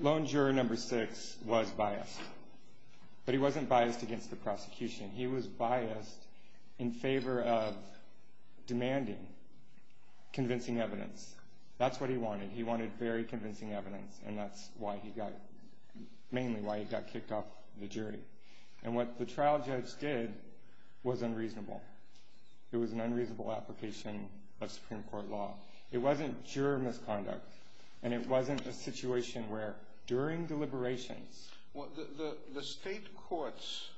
Loan juror number six was biased but he wasn't biased against the prosecution. He was biased in favor of demanding convincing evidence. That's what he wanted. He wanted very convincing evidence and that's why he got, mainly why he got kicked off the jury. And what the trial judge did was unreasonable. It was an unreasonable application of Supreme Court law. It wasn't juror misconduct and it wasn't a situation where during deliberations. The state courts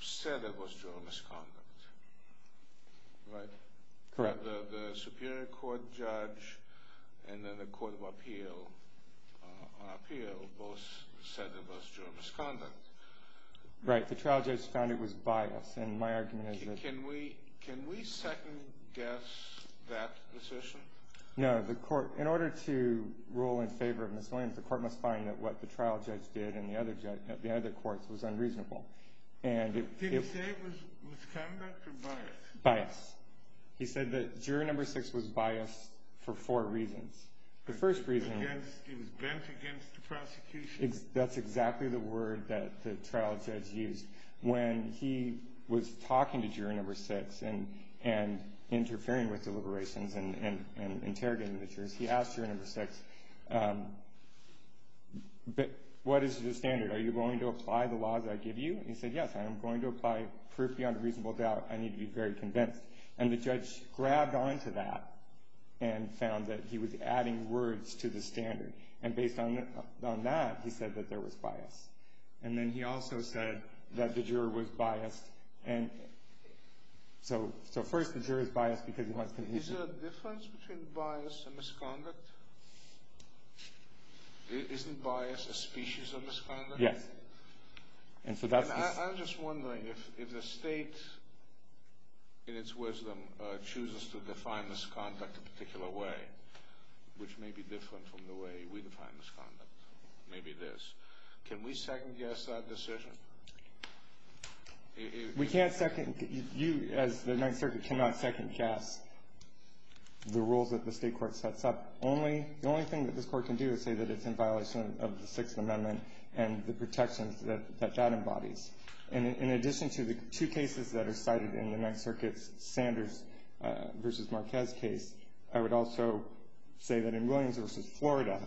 said it was juror misconduct, right? Correct. The Superior Court judge and then the Court of Appeal both said it was juror misconduct. Right, the trial judge found it was biased and my No, the court, in order to rule in favor of miscellaneous, the court must find that what the trial judge did and the other judge, the other courts, was unreasonable. And it was biased. He said that juror number six was biased for four reasons. The first reason is that's exactly the word that the trial judge used when he was talking to and interrogating the jurors. He asked juror number six, what is your standard? Are you going to apply the laws that I give you? And he said, yes, I am going to apply proof beyond a reasonable doubt. I need to be very convinced. And the judge grabbed on to that and found that he was adding words to the standard. And based on that, he said that there was bias. And then he also said that the juror was biased. And so first the juror is biased because he wants conviction. Is there a difference between bias and misconduct? Isn't bias a species of misconduct? Yes. And I'm just wondering if the state, in its wisdom, chooses to define misconduct in a particular way, which may be different from the way we define misconduct. Maybe it is. Can we second guess that decision? We can't second guess. You, as the Ninth Circuit, cannot second guess the rules that the state court sets up. The only thing that this court can do is say that it's in violation of the Sixth Amendment and the protections that that embodies. And in addition to the two cases that are cited in the Ninth Circuit's Sanders v. Marquez case, I would also say that in Williams v. Florida,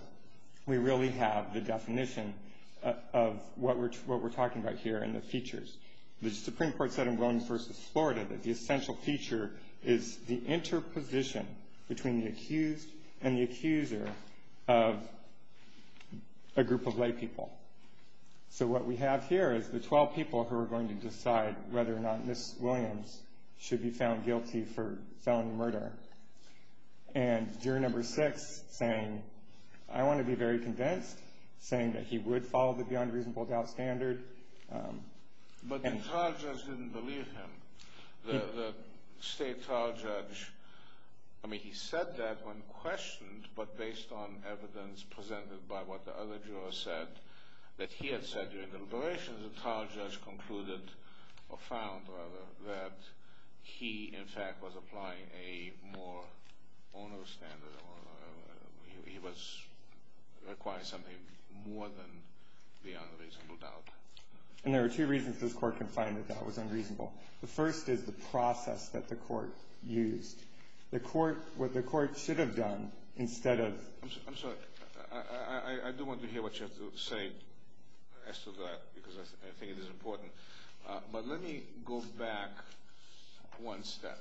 we really have the definition of what we're talking about here. And the features. The Supreme Court said in Williams v. Florida that the essential feature is the interposition between the accused and the accuser of a group of lay people. So what we have here is the 12 people who are going to decide whether or not Ms. Williams should be found guilty for felony murder. And juror number six saying, I want to be very convinced, saying that he would follow the beyond reasonable doubt standard. But the trial judge didn't believe him. The state trial judge, I mean, he said that when questioned, but based on evidence presented by what the other juror said, that he had said during the deliberations, the trial judge concluded, or found, rather, that he, in fact, was applying a more onerous standard. He was requiring something more than the unreasonable doubt. And there are two reasons this Court can find the doubt was unreasonable. The first is the process that the Court used. The Court, what the Court should have done instead of. I'm sorry. I do want to hear what you have to say as to that because I think it is important. But let me go back one step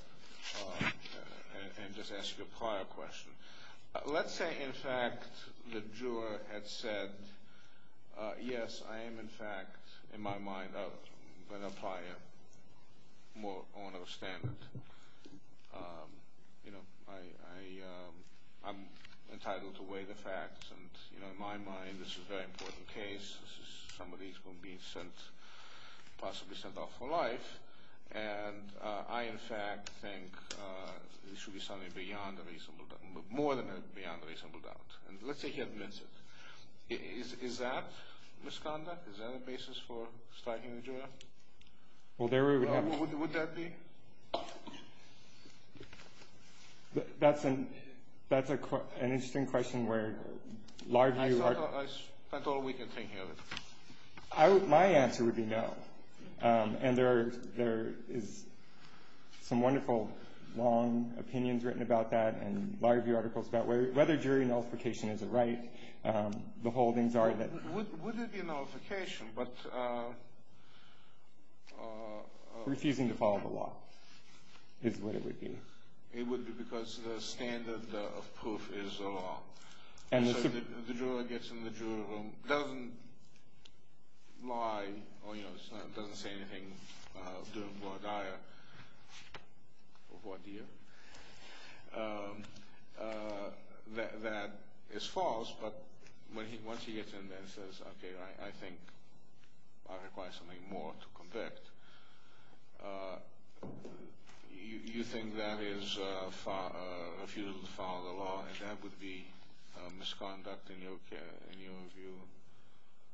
and just ask you a prior question. Let's say, in fact, the juror had said, yes, I am, in fact, in my mind, going to apply a more onerous standard. You know, I'm entitled to weigh the facts. And, you know, in my mind, this is a very important case. Somebody is going to be sent, possibly sent off for life. And I, in fact, think it should be something beyond the reasonable doubt, more than beyond the reasonable doubt. And let's say he admits it. Is that misconduct? Is that a basis for striking the juror? Well, there we would have... Would that be? That's an interesting question where law review... I spent all weekend thinking of it. My answer would be no. And there is some wonderful, long opinions written about that and law review articles about whether jury nullification is a right. The holdings are that... Would it be a nullification, but... Refusing to follow the law is what it would be. It would be because the standard of proof is the law. And the... So the juror gets in the jury room, doesn't lie or, you know, doesn't say anything during voir dire or voir dire. That is false, but once he gets in there and says, okay, I think I require something more to convict, you think that is a refusal to follow the law, and that would be misconduct in your view?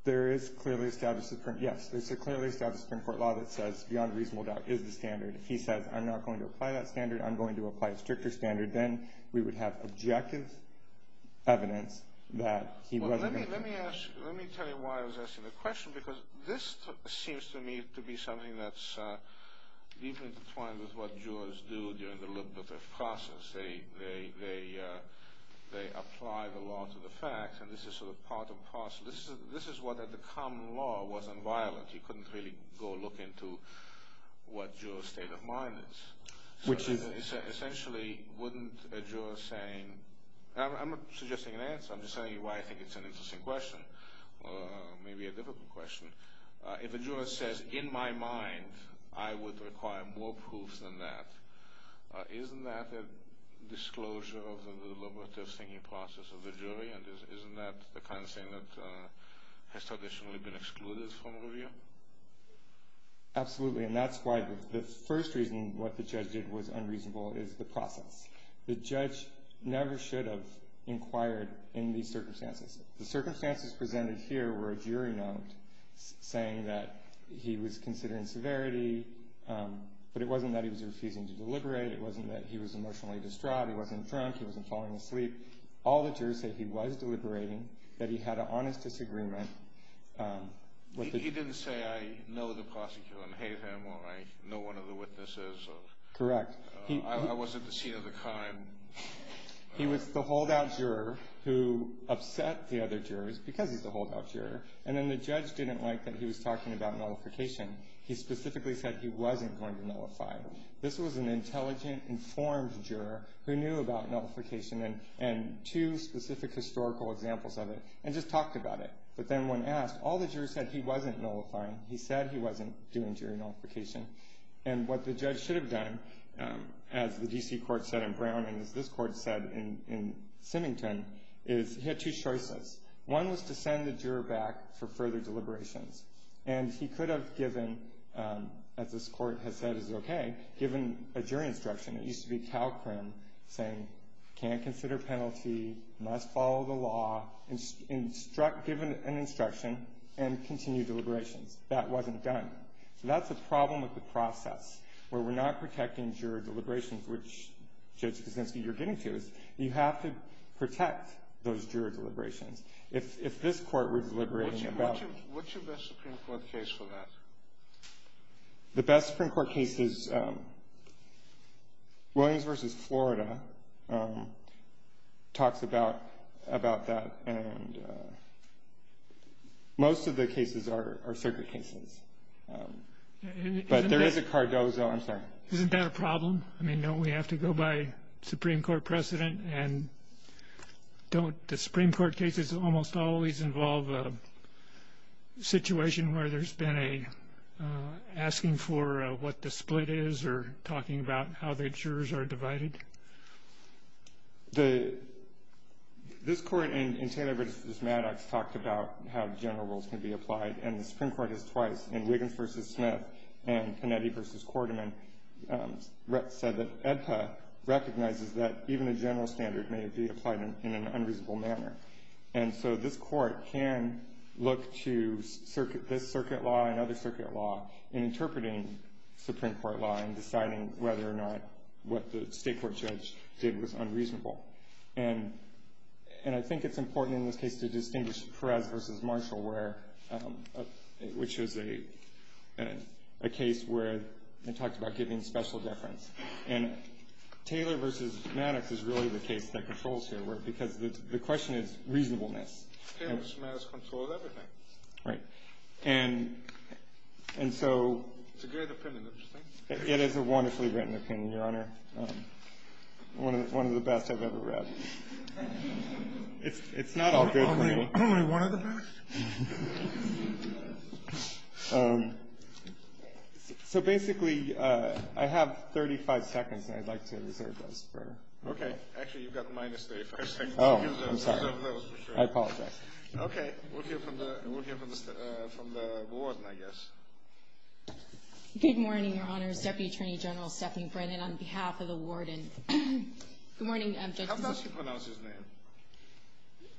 There is clearly a statute of... Yes, there's a clearly established Supreme Court law that says beyond reasonable doubt is the standard. If he says, I'm not going to apply that standard, I'm going to apply a stricter standard, then we would have objective evidence that he wasn't... Let me tell you why I was asking the question, because this seems to me to be something that's deeply intertwined with what jurors do during the look of the process. They apply the law to the facts, and this is sort of part of the process. This is what the common law was on violence. You couldn't really go look into what a juror's state of mind is. Which is... I'm not suggesting an answer. I'm just telling you why I think it's an interesting question, or maybe a difficult question. If a juror says, in my mind, I would require more proofs than that, isn't that a disclosure of the deliberative thinking process of the jury, and isn't that the kind of thing that has traditionally been excluded from review? Absolutely, and that's why the first reason what the judge did was unreasonable is the process. The judge never should have inquired in these circumstances. The circumstances presented here were a jury note saying that he was considering severity, but it wasn't that he was refusing to deliberate. It wasn't that he was emotionally distraught. He wasn't drunk. He wasn't falling asleep. All the jurors said he was deliberating, that he had an honest disagreement. He didn't say, I know the prosecutor and hate him, or I know one of the witnesses. Correct. I wasn't the scene of the crime. He was the holdout juror who upset the other jurors because he's the holdout juror, and then the judge didn't like that he was talking about nullification. He specifically said he wasn't going to nullify. This was an intelligent, informed juror who knew about nullification and two specific historical examples of it, and just talked about it. But then when asked, all the jurors said he wasn't nullifying. He said he wasn't doing jury nullification. And what the judge should have done, as the D.C. court said in Brown and as this court said in Symington, is he had two choices. One was to send the juror back for further deliberations, and he could have given, as this court has said is okay, given a jury instruction. It used to be Calcrim saying, can't consider penalty, must follow the law, give an instruction, and continue deliberations. That wasn't done. So that's the problem with the process, where we're not protecting juror deliberations, which, Judge Kuczynski, you're getting to. You have to protect those juror deliberations. If this court were deliberating about them. What's your best Supreme Court case for that? The best Supreme Court case is Williams v. Florida. Talks about that. And most of the cases are circuit cases. But there is a Cardozo. I'm sorry. Isn't that a problem? I mean, don't we have to go by Supreme Court precedent? And don't the Supreme Court cases almost always involve a situation where there's been a asking for what the split is or talking about how the jurors are divided? This court in Taylor v. Maddox talked about how general rules can be applied, and the Supreme Court has twice, in Wiggins v. Smith and Panetti v. Quarterman, said that EDPA recognizes that even a general standard may be applied in an unreasonable manner. And so this court can look to this circuit law and other circuit law in interpreting Supreme Court law and deciding whether or not what the state court judge did was unreasonable. And I think it's important in this case to distinguish Perez v. Marshall, which is a case where they talked about giving special deference. And Taylor v. Maddox is really the case that controls here, because the question is reasonableness. Taylor v. Maddox controls everything. Right. And so it is a wonderfully written opinion, Your Honor. One of the best I've ever read. It's not all good for me. Only one of the best? So basically, I have 35 seconds, and I'd like to reserve those. Okay. Actually, you've got minus 30 seconds. Oh, I'm sorry. I apologize. Okay. We'll hear from the warden, I guess. Good morning, Your Honor. Deputy Attorney General Stephen Brennan on behalf of the warden. Good morning, Judges. How does he pronounce his name?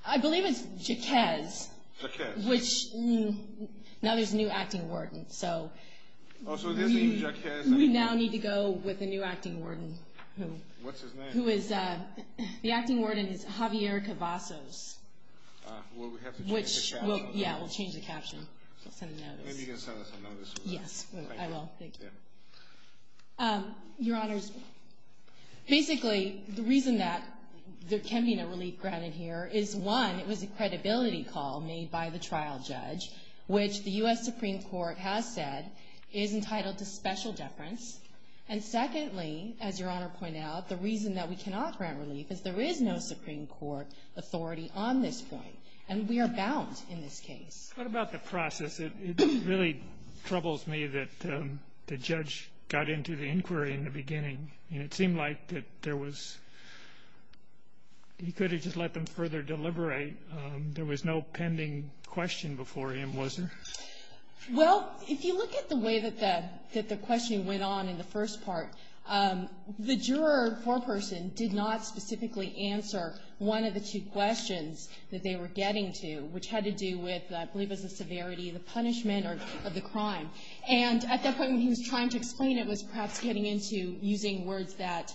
I believe it's Jaquez. Jaquez. Now there's a new acting warden, so we now need to go with a new acting warden. What's his name? The acting warden is Javier Cavazos. Well, we have to change the caption. Yeah, we'll change the caption. Yes, I will. Thank you. Your Honors, basically the reason that there can be no relief granted here is, one, it was a credibility call made by the trial judge, which the U.S. Supreme Court has said is entitled to special deference. And secondly, as Your Honor pointed out, the reason that we cannot grant relief is there is no Supreme Court authority on this point, and we are bound in this case. What about the process? It really troubles me that the judge got into the inquiry in the beginning, and it seemed like that there was he could have just let them further deliberate. There was no pending question before him, was there? Well, if you look at the way that the questioning went on in the first part, the juror foreperson did not specifically answer one of the two questions that they were getting to, which had to do with, I believe it was the severity, the punishment of the crime. And at that point, when he was trying to explain it, was perhaps getting into using words that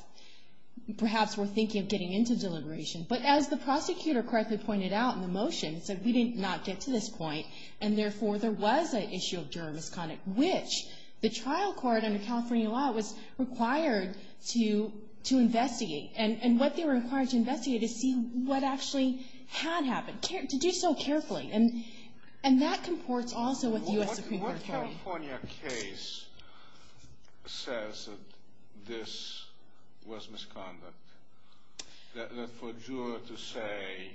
perhaps were thinking of getting into deliberation. But as the prosecutor correctly pointed out in the motion, he said we did not get to this point, and therefore there was an issue of juror misconduct, which the trial court under California law was required to investigate. And what they were required to investigate is see what actually had happened. To do so carefully, and that comports also with U.S. Supreme Court. What California case says that this was misconduct? That for a juror to say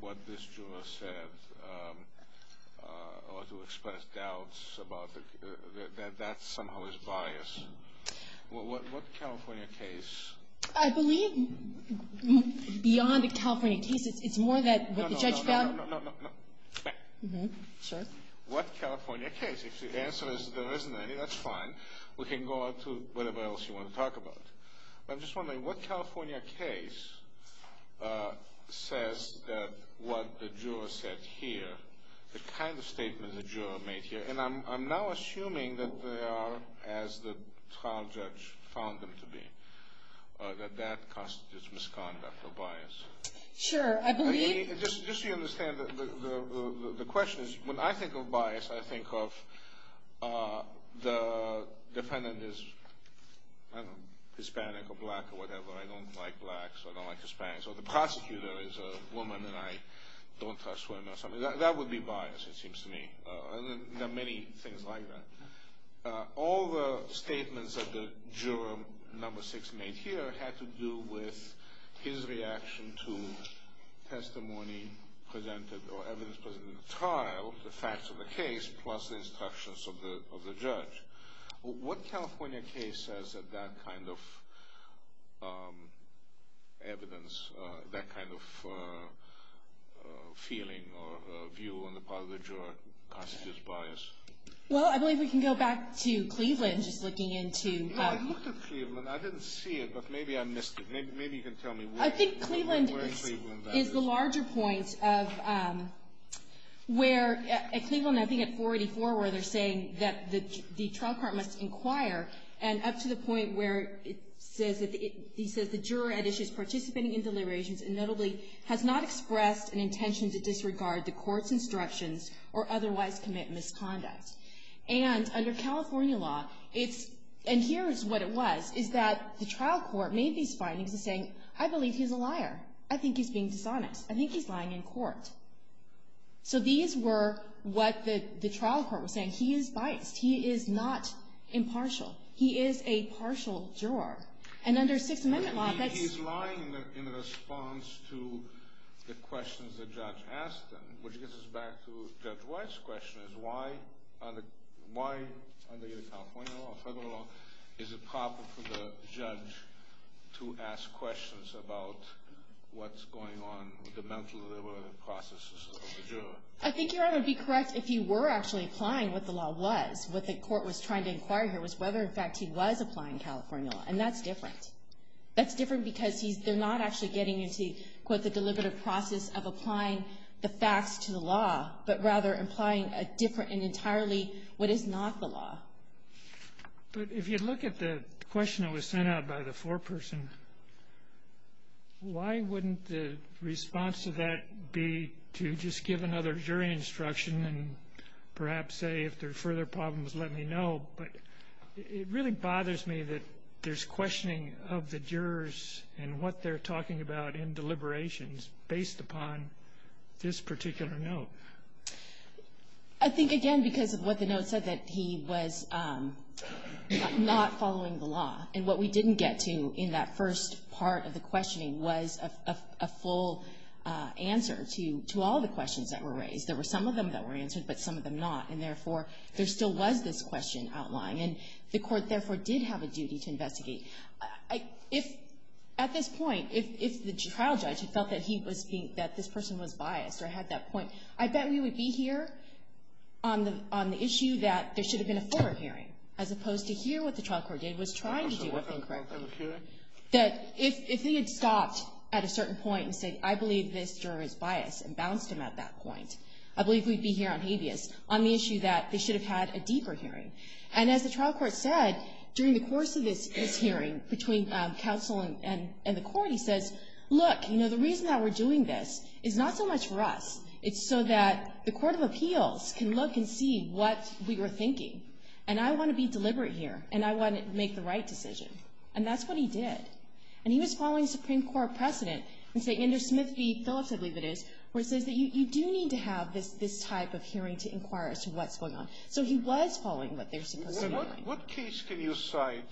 what this juror said, or to express doubts about it, that that somehow is bias. What California case? I believe beyond the California case, it's more that what the judge found. No, no, no, no, no, no. Sure. What California case? If the answer is there isn't any, that's fine. We can go on to whatever else you want to talk about. I'm just wondering, what California case says that what the juror said here, the kind of statement the juror made here, and I'm now assuming that they are, as the trial judge found them to be, that that constitutes misconduct or bias. Sure. Just so you understand, the question is, when I think of bias, I think of the defendant is Hispanic or black or whatever. I don't like blacks. I don't like Hispanics. Or the prosecutor is a woman, and I don't touch women or something. That would be bias, it seems to me. There are many things like that. All the statements that the juror number six made here had to do with his reaction to testimony presented or evidence presented in the trial, the facts of the case, plus the instructions of the judge. What California case says that that kind of evidence, that kind of feeling or view on the part of the juror constitutes bias? Well, I believe we can go back to Cleveland, just looking into. I looked at Cleveland. I didn't see it, but maybe I missed it. Maybe you can tell me where in Cleveland that is. It is the larger point of where, at Cleveland, I think at 484, where they're saying that the trial court must inquire, and up to the point where it says that the juror had issues participating in deliberations and notably has not expressed an intention to disregard the court's instructions or otherwise commit misconduct. And under California law, and here is what it was, is that the trial court made these findings in saying, I believe he's a liar. I think he's being dishonest. I think he's lying in court. So these were what the trial court was saying. He is biased. He is not impartial. He is a partial juror. And under Sixth Amendment law, that's. He's lying in response to the questions that Judge Aston, which gets us back to Judge White's question, is why under California law, federal law, is it proper for the judge to ask questions about what's going on with the mental processes of the juror? I think Your Honor would be correct if he were actually applying what the law was. What the court was trying to inquire here was whether, in fact, he was applying California law. And that's different. That's different because they're not actually getting into, quote, of applying the facts to the law, but rather applying a different and entirely what is not the law. But if you look at the question that was sent out by the foreperson, why wouldn't the response to that be to just give another jury instruction and perhaps say, if there are further problems, let me know? But it really bothers me that there's questioning of the jurors and what they're talking about in deliberations based upon this particular note. I think, again, because of what the note said, that he was not following the law. And what we didn't get to in that first part of the questioning was a full answer to all the questions that were raised. There were some of them that were answered, but some of them not. And, therefore, there still was this question outlying. And the court, therefore, did have a duty to investigate. If, at this point, if the trial judge had felt that he was being, that this person was biased or had that point, I bet we would be here on the issue that there should have been a forward hearing, as opposed to here what the trial court did was trying to do with him correctly. That if he had stopped at a certain point and said, I believe this juror is biased, and bounced him at that point, I believe we'd be here on habeas, on the issue that they should have had a deeper hearing. And as the trial court said, during the course of this hearing between counsel and the court, he says, look, you know, the reason that we're doing this is not so much for us. It's so that the court of appeals can look and see what we were thinking. And I want to be deliberate here, and I want to make the right decision. And that's what he did. And he was following Supreme Court precedent. He said, Andrew Smith v. Phillips, I believe it is, where it says that you do need to have this type of hearing to inquire as to what's going on. So he was following what they're supposed to be doing. What case can you cite,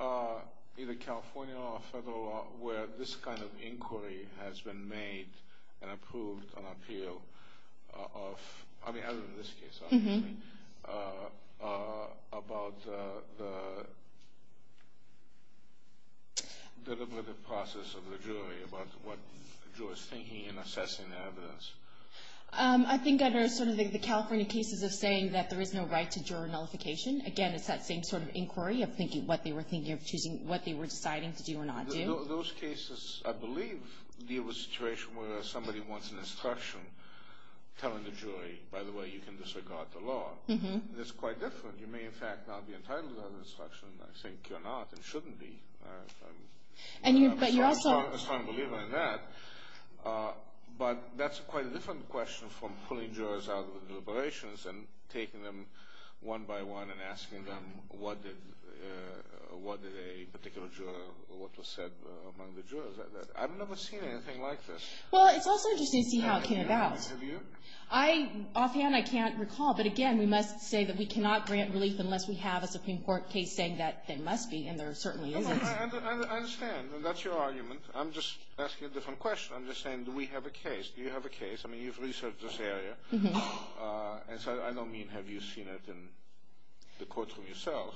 either California or federal law, where this kind of inquiry has been made and approved on appeal of, I mean, other than this case, obviously, about the deliberative process of the jury, about what a juror's thinking in assessing the evidence? I think under sort of the California cases of saying that there is no right to juror nullification. Again, it's that same sort of inquiry of thinking what they were deciding to do or not do. Those cases, I believe, deal with a situation where somebody wants an instruction telling the jury, by the way, you can disregard the law. That's quite different. You may, in fact, not be entitled to that instruction. I think you're not and shouldn't be. I'm a strong believer in that. But that's quite a different question from pulling jurors out of the deliberations and taking them one by one and asking them what did a particular juror, what was said among the jurors. I've never seen anything like this. Well, it's also interesting to see how it came about. Have you? I, offhand, I can't recall. But, again, we must say that we cannot grant relief unless we have a Supreme Court case saying that there must be, and there certainly isn't. I understand. That's your argument. I'm just asking a different question. I'm just saying, do we have a case? Do you have a case? I mean, you've researched this area. And so I don't mean have you seen it in the courtroom yourself.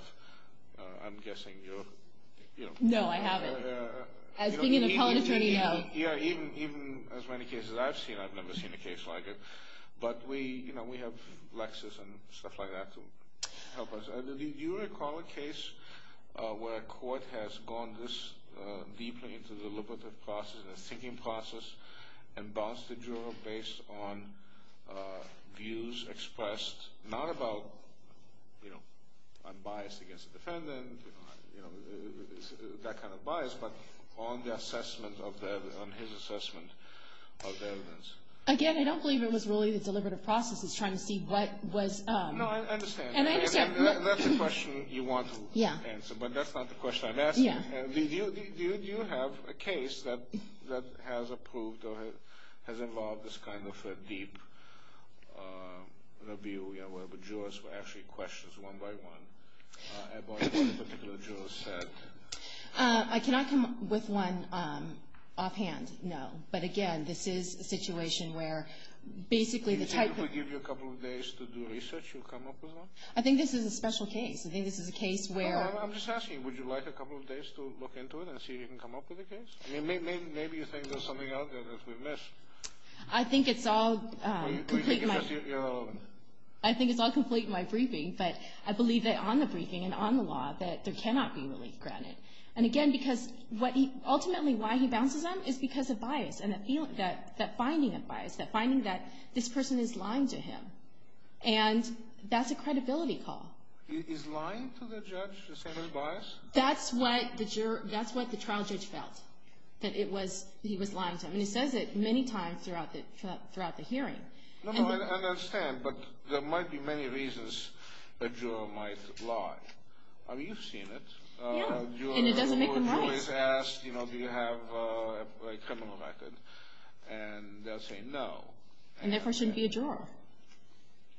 I'm guessing you're, you know. No, I haven't. As being an appellate attorney, no. Even as many cases I've seen, I've never seen a case like it. But we have Lexis and stuff like that to help us. Do you recall a case where a court has gone this deeply into the deliberative process and the thinking process and bounced the juror based on views expressed not about, you know, I'm biased against the defendant, you know, that kind of bias, but on the assessment of the evidence, on his assessment of the evidence? Again, I don't believe it was really the deliberative process. He's trying to see what was. No, I understand. And I understand. That's a question you want to answer, but that's not the question I'm asking. Do you have a case that has approved or has involved this kind of deep review, where the jurors were actually questioned one by one about what the particular juror said? I cannot come up with one offhand, no. But, again, this is a situation where basically the type of... I think this is a special case. I think this is a case where... I'm just asking, would you like a couple of days to look into it and see if you can come up with a case? I mean, maybe you think there's something out there that we've missed. I think it's all... Well, you can give us your... I think it's all complete in my briefing, but I believe that on the briefing and on the law that there cannot be relief granted. And, again, because ultimately why he bounces them is because of bias and that finding of bias, that finding that this person is lying to him. And that's a credibility call. Is lying to the judge the same as bias? That's what the trial judge felt, that he was lying to him. And he says it many times throughout the hearing. No, no, I understand, but there might be many reasons a juror might lie. I mean, you've seen it. Yeah, and it doesn't make them right. Your juror is asked, you know, do you have a criminal record, and they'll say no. And that person would be a juror.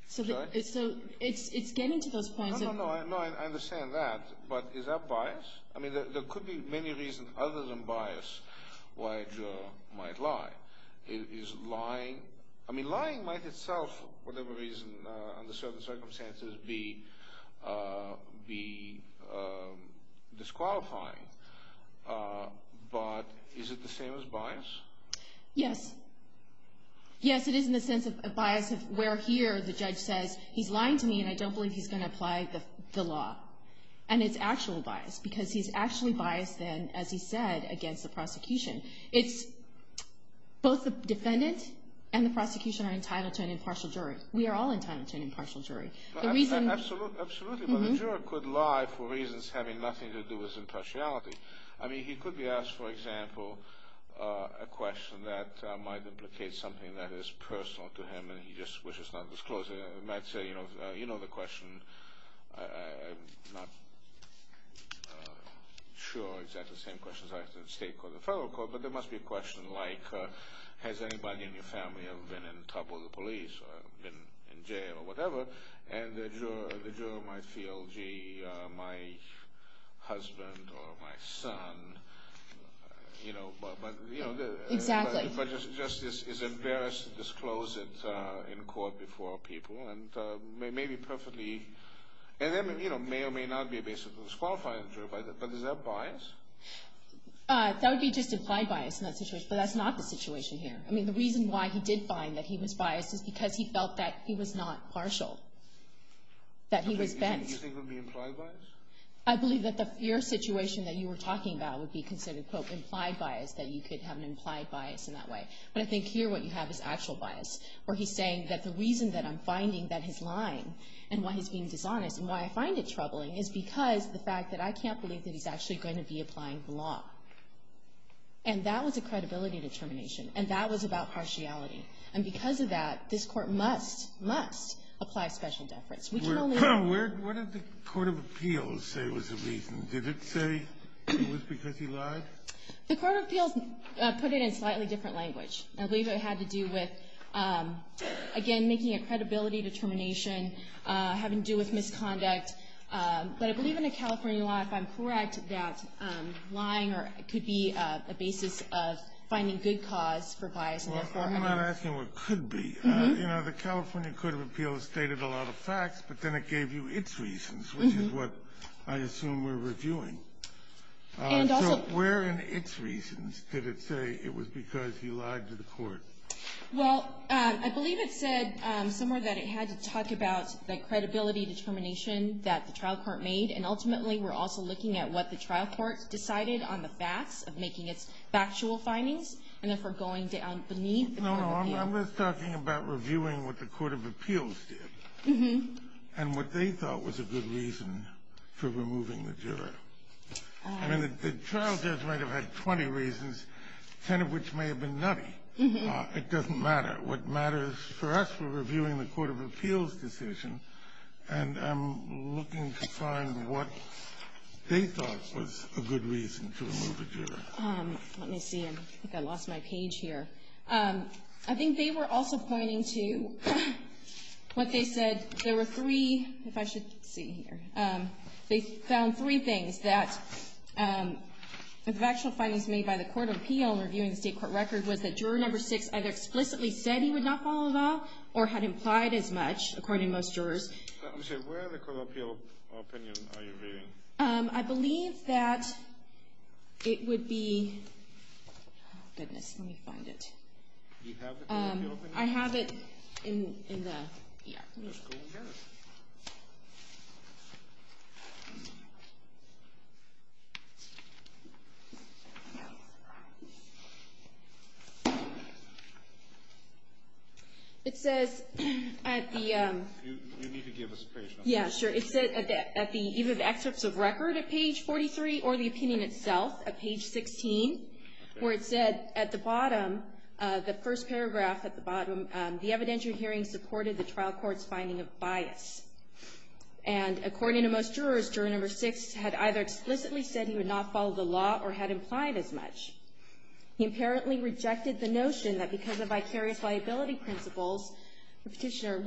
So it's getting to those points... No, no, no, I understand that. But is that bias? I mean, there could be many reasons other than bias why a juror might lie. Is lying... I mean, lying might itself, for whatever reason, under certain circumstances, be disqualifying. But is it the same as bias? Yes. Yes, it is in the sense of bias where here the judge says he's lying to me, and I don't believe he's going to apply the law. And it's actual bias because he's actually biased then, as he said, against the prosecution. It's both the defendant and the prosecution are entitled to an impartial jury. We are all entitled to an impartial jury. Absolutely, but a juror could lie for reasons having nothing to do with impartiality. I mean, he could be asked, for example, a question that might implicate something that is personal to him, and he just wishes not to disclose it. He might say, you know the question. I'm not sure exactly the same question is asked in the state court or the federal court, but there must be a question like has anybody in your family ever been in trouble with the police or been in jail or whatever? And the juror might feel, gee, my husband or my son, you know, but, you know. Exactly. But just is embarrassed to disclose it in court before people and maybe perfectly, and then, you know, may or may not be basically disqualified in the jury, but is that bias? That would be just implied bias in that situation, but that's not the situation here. I mean, the reason why he did find that he was biased is because he felt that he was not partial, that he was bent. You think that would be implied bias? I believe that your situation that you were talking about would be considered, quote, implied bias, that you could have an implied bias in that way. But I think here what you have is actual bias where he's saying that the reason that I'm finding that he's lying and why he's being dishonest and why I find it troubling is because the fact that I can't believe that he's actually going to be applying the law. And that was a credibility determination. And that was about partiality. And because of that, this Court must, must apply special deference. Where did the Court of Appeals say was the reason? Did it say it was because he lied? The Court of Appeals put it in a slightly different language. I believe it had to do with, again, making a credibility determination, having to do with misconduct. But I believe in the California law, if I'm correct, that lying could be a basis of finding good cause for bias. I'm not asking what could be. You know, the California Court of Appeals stated a lot of facts, but then it gave you its reasons, which is what I assume we're reviewing. So where in its reasons did it say it was because he lied to the Court? Well, I believe it said somewhere that it had to talk about the credibility determination that the trial court made. And ultimately, we're also looking at what the trial court decided on the facts of making its factual findings and therefore going down beneath the Court of Appeals. No, no, I'm just talking about reviewing what the Court of Appeals did and what they thought was a good reason for removing the juror. I mean, the trial judge might have had 20 reasons, 10 of which may have been nutty. It doesn't matter. What matters for us, we're reviewing the Court of Appeals' decision, and I'm looking to find what they thought was a good reason to remove a juror. Let me see. I think I lost my page here. I think they were also pointing to what they said. There were three, if I should see here. They found three things that the factual findings made by the Court of Appeals in reviewing the state court record was that juror No. 6 either explicitly said he would not follow the law or had implied as much, according to most jurors. Let me see. Where in the Court of Appeals' opinion are you viewing? I believe that it would be—oh, goodness, let me find it. Do you have the Court of Appeals' opinion? I have it in the E.R. Let's go and get it. It says at the— You need to give us a page number. Yeah, sure. It said at the—either the excerpts of record at page 43 or the opinion itself at page 16, where it said at the bottom, the first paragraph at the bottom, the evidentiary hearing supported the trial court's finding of bias. And according to most jurors, juror No. 6 had either explicitly said he would not follow the law or had implied as much. He apparently rejected the notion that because of vicarious liability principles, Petitioner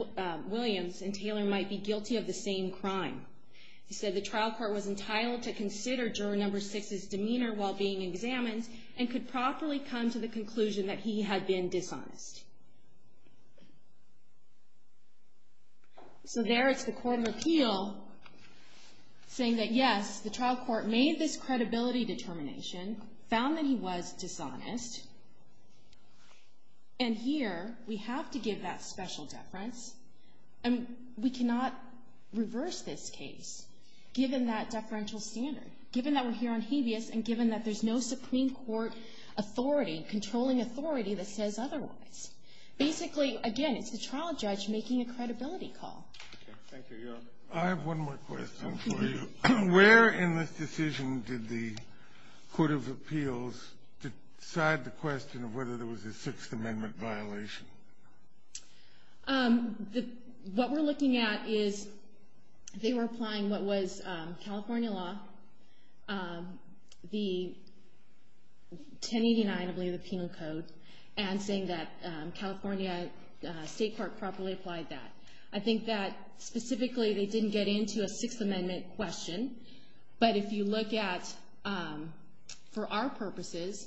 Williams and Taylor might be guilty of the same crime. He said the trial court was entitled to consider juror No. 6's demeanor while being examined and could properly come to the conclusion that he had been dishonest. So there is the Court of Appeal saying that, yes, the trial court made this credibility determination, found that he was dishonest, and here we have to give that special deference. And we cannot reverse this case, given that deferential standard, given that we're here on habeas, and given that there's no Supreme Court authority, controlling authority that says otherwise. Basically, again, it's the trial judge making a credibility call. Thank you. I have one more question for you. Where in this decision did the Court of Appeals decide the question of whether there was a Sixth Amendment violation? What we're looking at is they were applying what was California law, the 1089, I believe, of the Penal Code, and saying that California State Court properly applied that. I think that specifically they didn't get into a Sixth Amendment question, but if you look at, for our purposes,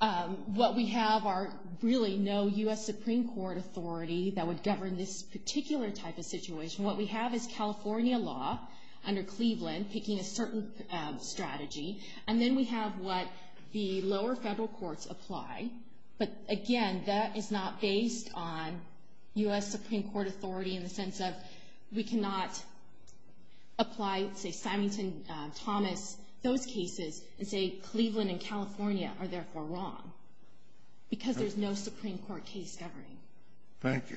what we have are really no U.S. Supreme Court authority that would govern this particular type of situation. What we have is California law under Cleveland picking a certain strategy, and then we have what the lower federal courts apply, but, again, that is not based on U.S. Supreme Court authority in the sense of we cannot apply, say, Symington, Thomas, those cases, and say Cleveland and California are therefore wrong because there's no Supreme Court case governing. Thank you.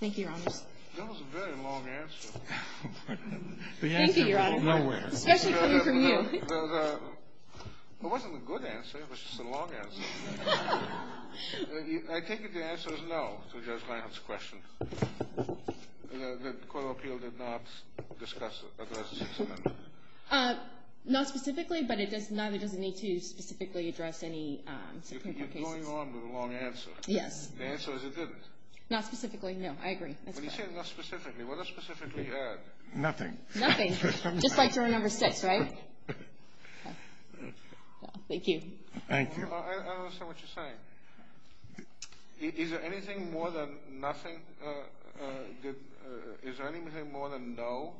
Thank you, Your Honors. That was a very long answer. Thank you, Your Honor. Especially coming from you. It wasn't a good answer. It was just a long answer. I take it the answer is no to Judge Langhut's question, that the Court of Appeal did not discuss or address the Sixth Amendment. Not specifically, but it doesn't need to specifically address any Supreme Court cases. You keep going on with a long answer. Yes. The answer is it didn't. Not specifically, no. I agree. When you say not specifically, what does specifically add? Nothing. Nothing. Just like to our number six, right? Thank you. Thank you. I don't understand what you're saying. Is there anything more than nothing? Is there anything more than no,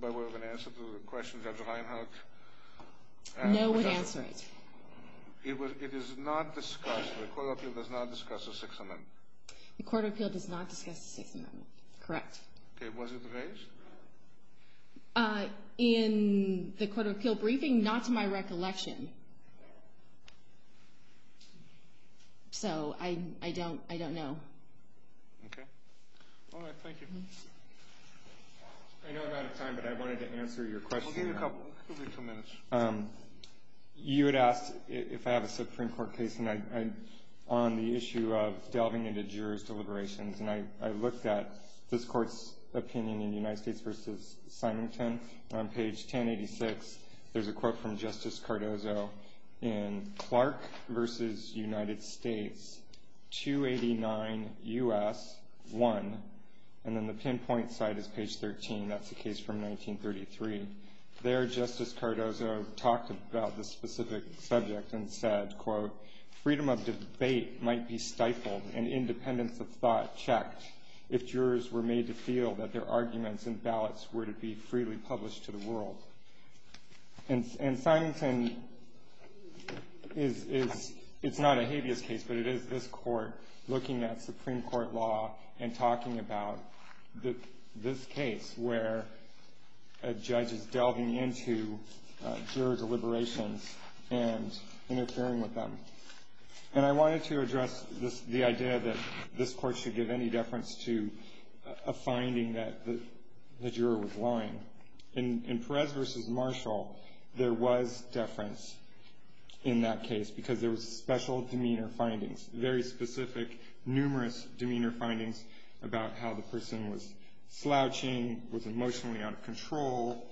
by way of an answer to the question of Judge Langhut? No would answer it. It is not discussed. The Court of Appeal does not discuss the Sixth Amendment. The Court of Appeal does not discuss the Sixth Amendment. Correct. Okay. Was it raised? In the Court of Appeal briefing, not to my recollection. So I don't know. Okay. All right. Thank you. I know I'm out of time, but I wanted to answer your question. We'll give you a couple minutes. You had asked if I have a Supreme Court case on the issue of delving into jurist deliberations, and I looked at this Court's opinion in United States v. Simington. On page 1086, there's a quote from Justice Cardozo in Clark v. United States, 289 U.S. 1, and then the pinpoint side is page 13. That's the case from 1933. There, Justice Cardozo talked about the specific subject and said, quote, Freedom of debate might be stifled and independence of thought checked if jurors were made to feel that their arguments in ballots were to be freely published to the world. And Simington is not a habeas case, but it is this Court looking at Supreme Court law and talking about this case where a judge is delving into juror deliberations and interfering with them. And I wanted to address the idea that this Court should give any deference to a finding that the juror was lying. In Perez v. Marshall, there was deference in that case because there was special demeanor findings, very specific, numerous demeanor findings about how the person was slouching, was emotionally out of control,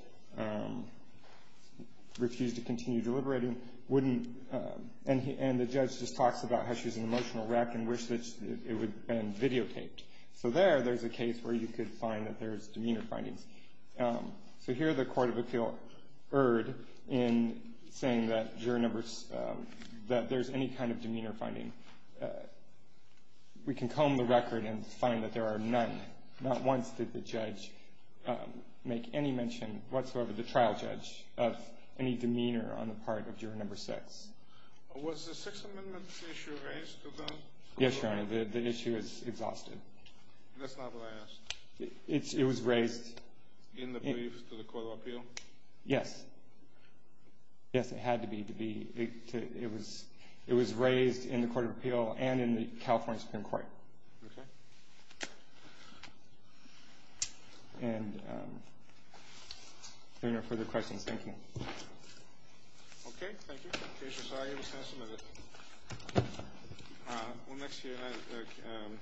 refused to continue deliberating, and the judge just talks about how she was an emotional wreck and wished that it would have been videotaped. So there, there's a case where you could find that there's demeanor findings. So here the Court of Appeal erred in saying that juror numbers, that there's any kind of demeanor finding. We can comb the record and find that there are none. Not once did the judge make any mention whatsoever, the trial judge, of any demeanor on the part of juror number six. Was the Sixth Amendment issue raised to them? Yes, Your Honor. That's not what I asked. It was raised. In the briefs to the Court of Appeal? Yes. Yes, it had to be. It was raised in the Court of Appeal and in the California Supreme Court. Okay. And if there are no further questions, thank you. Okay, thank you. In case you're sorry, you just have some of this. Well, next to you.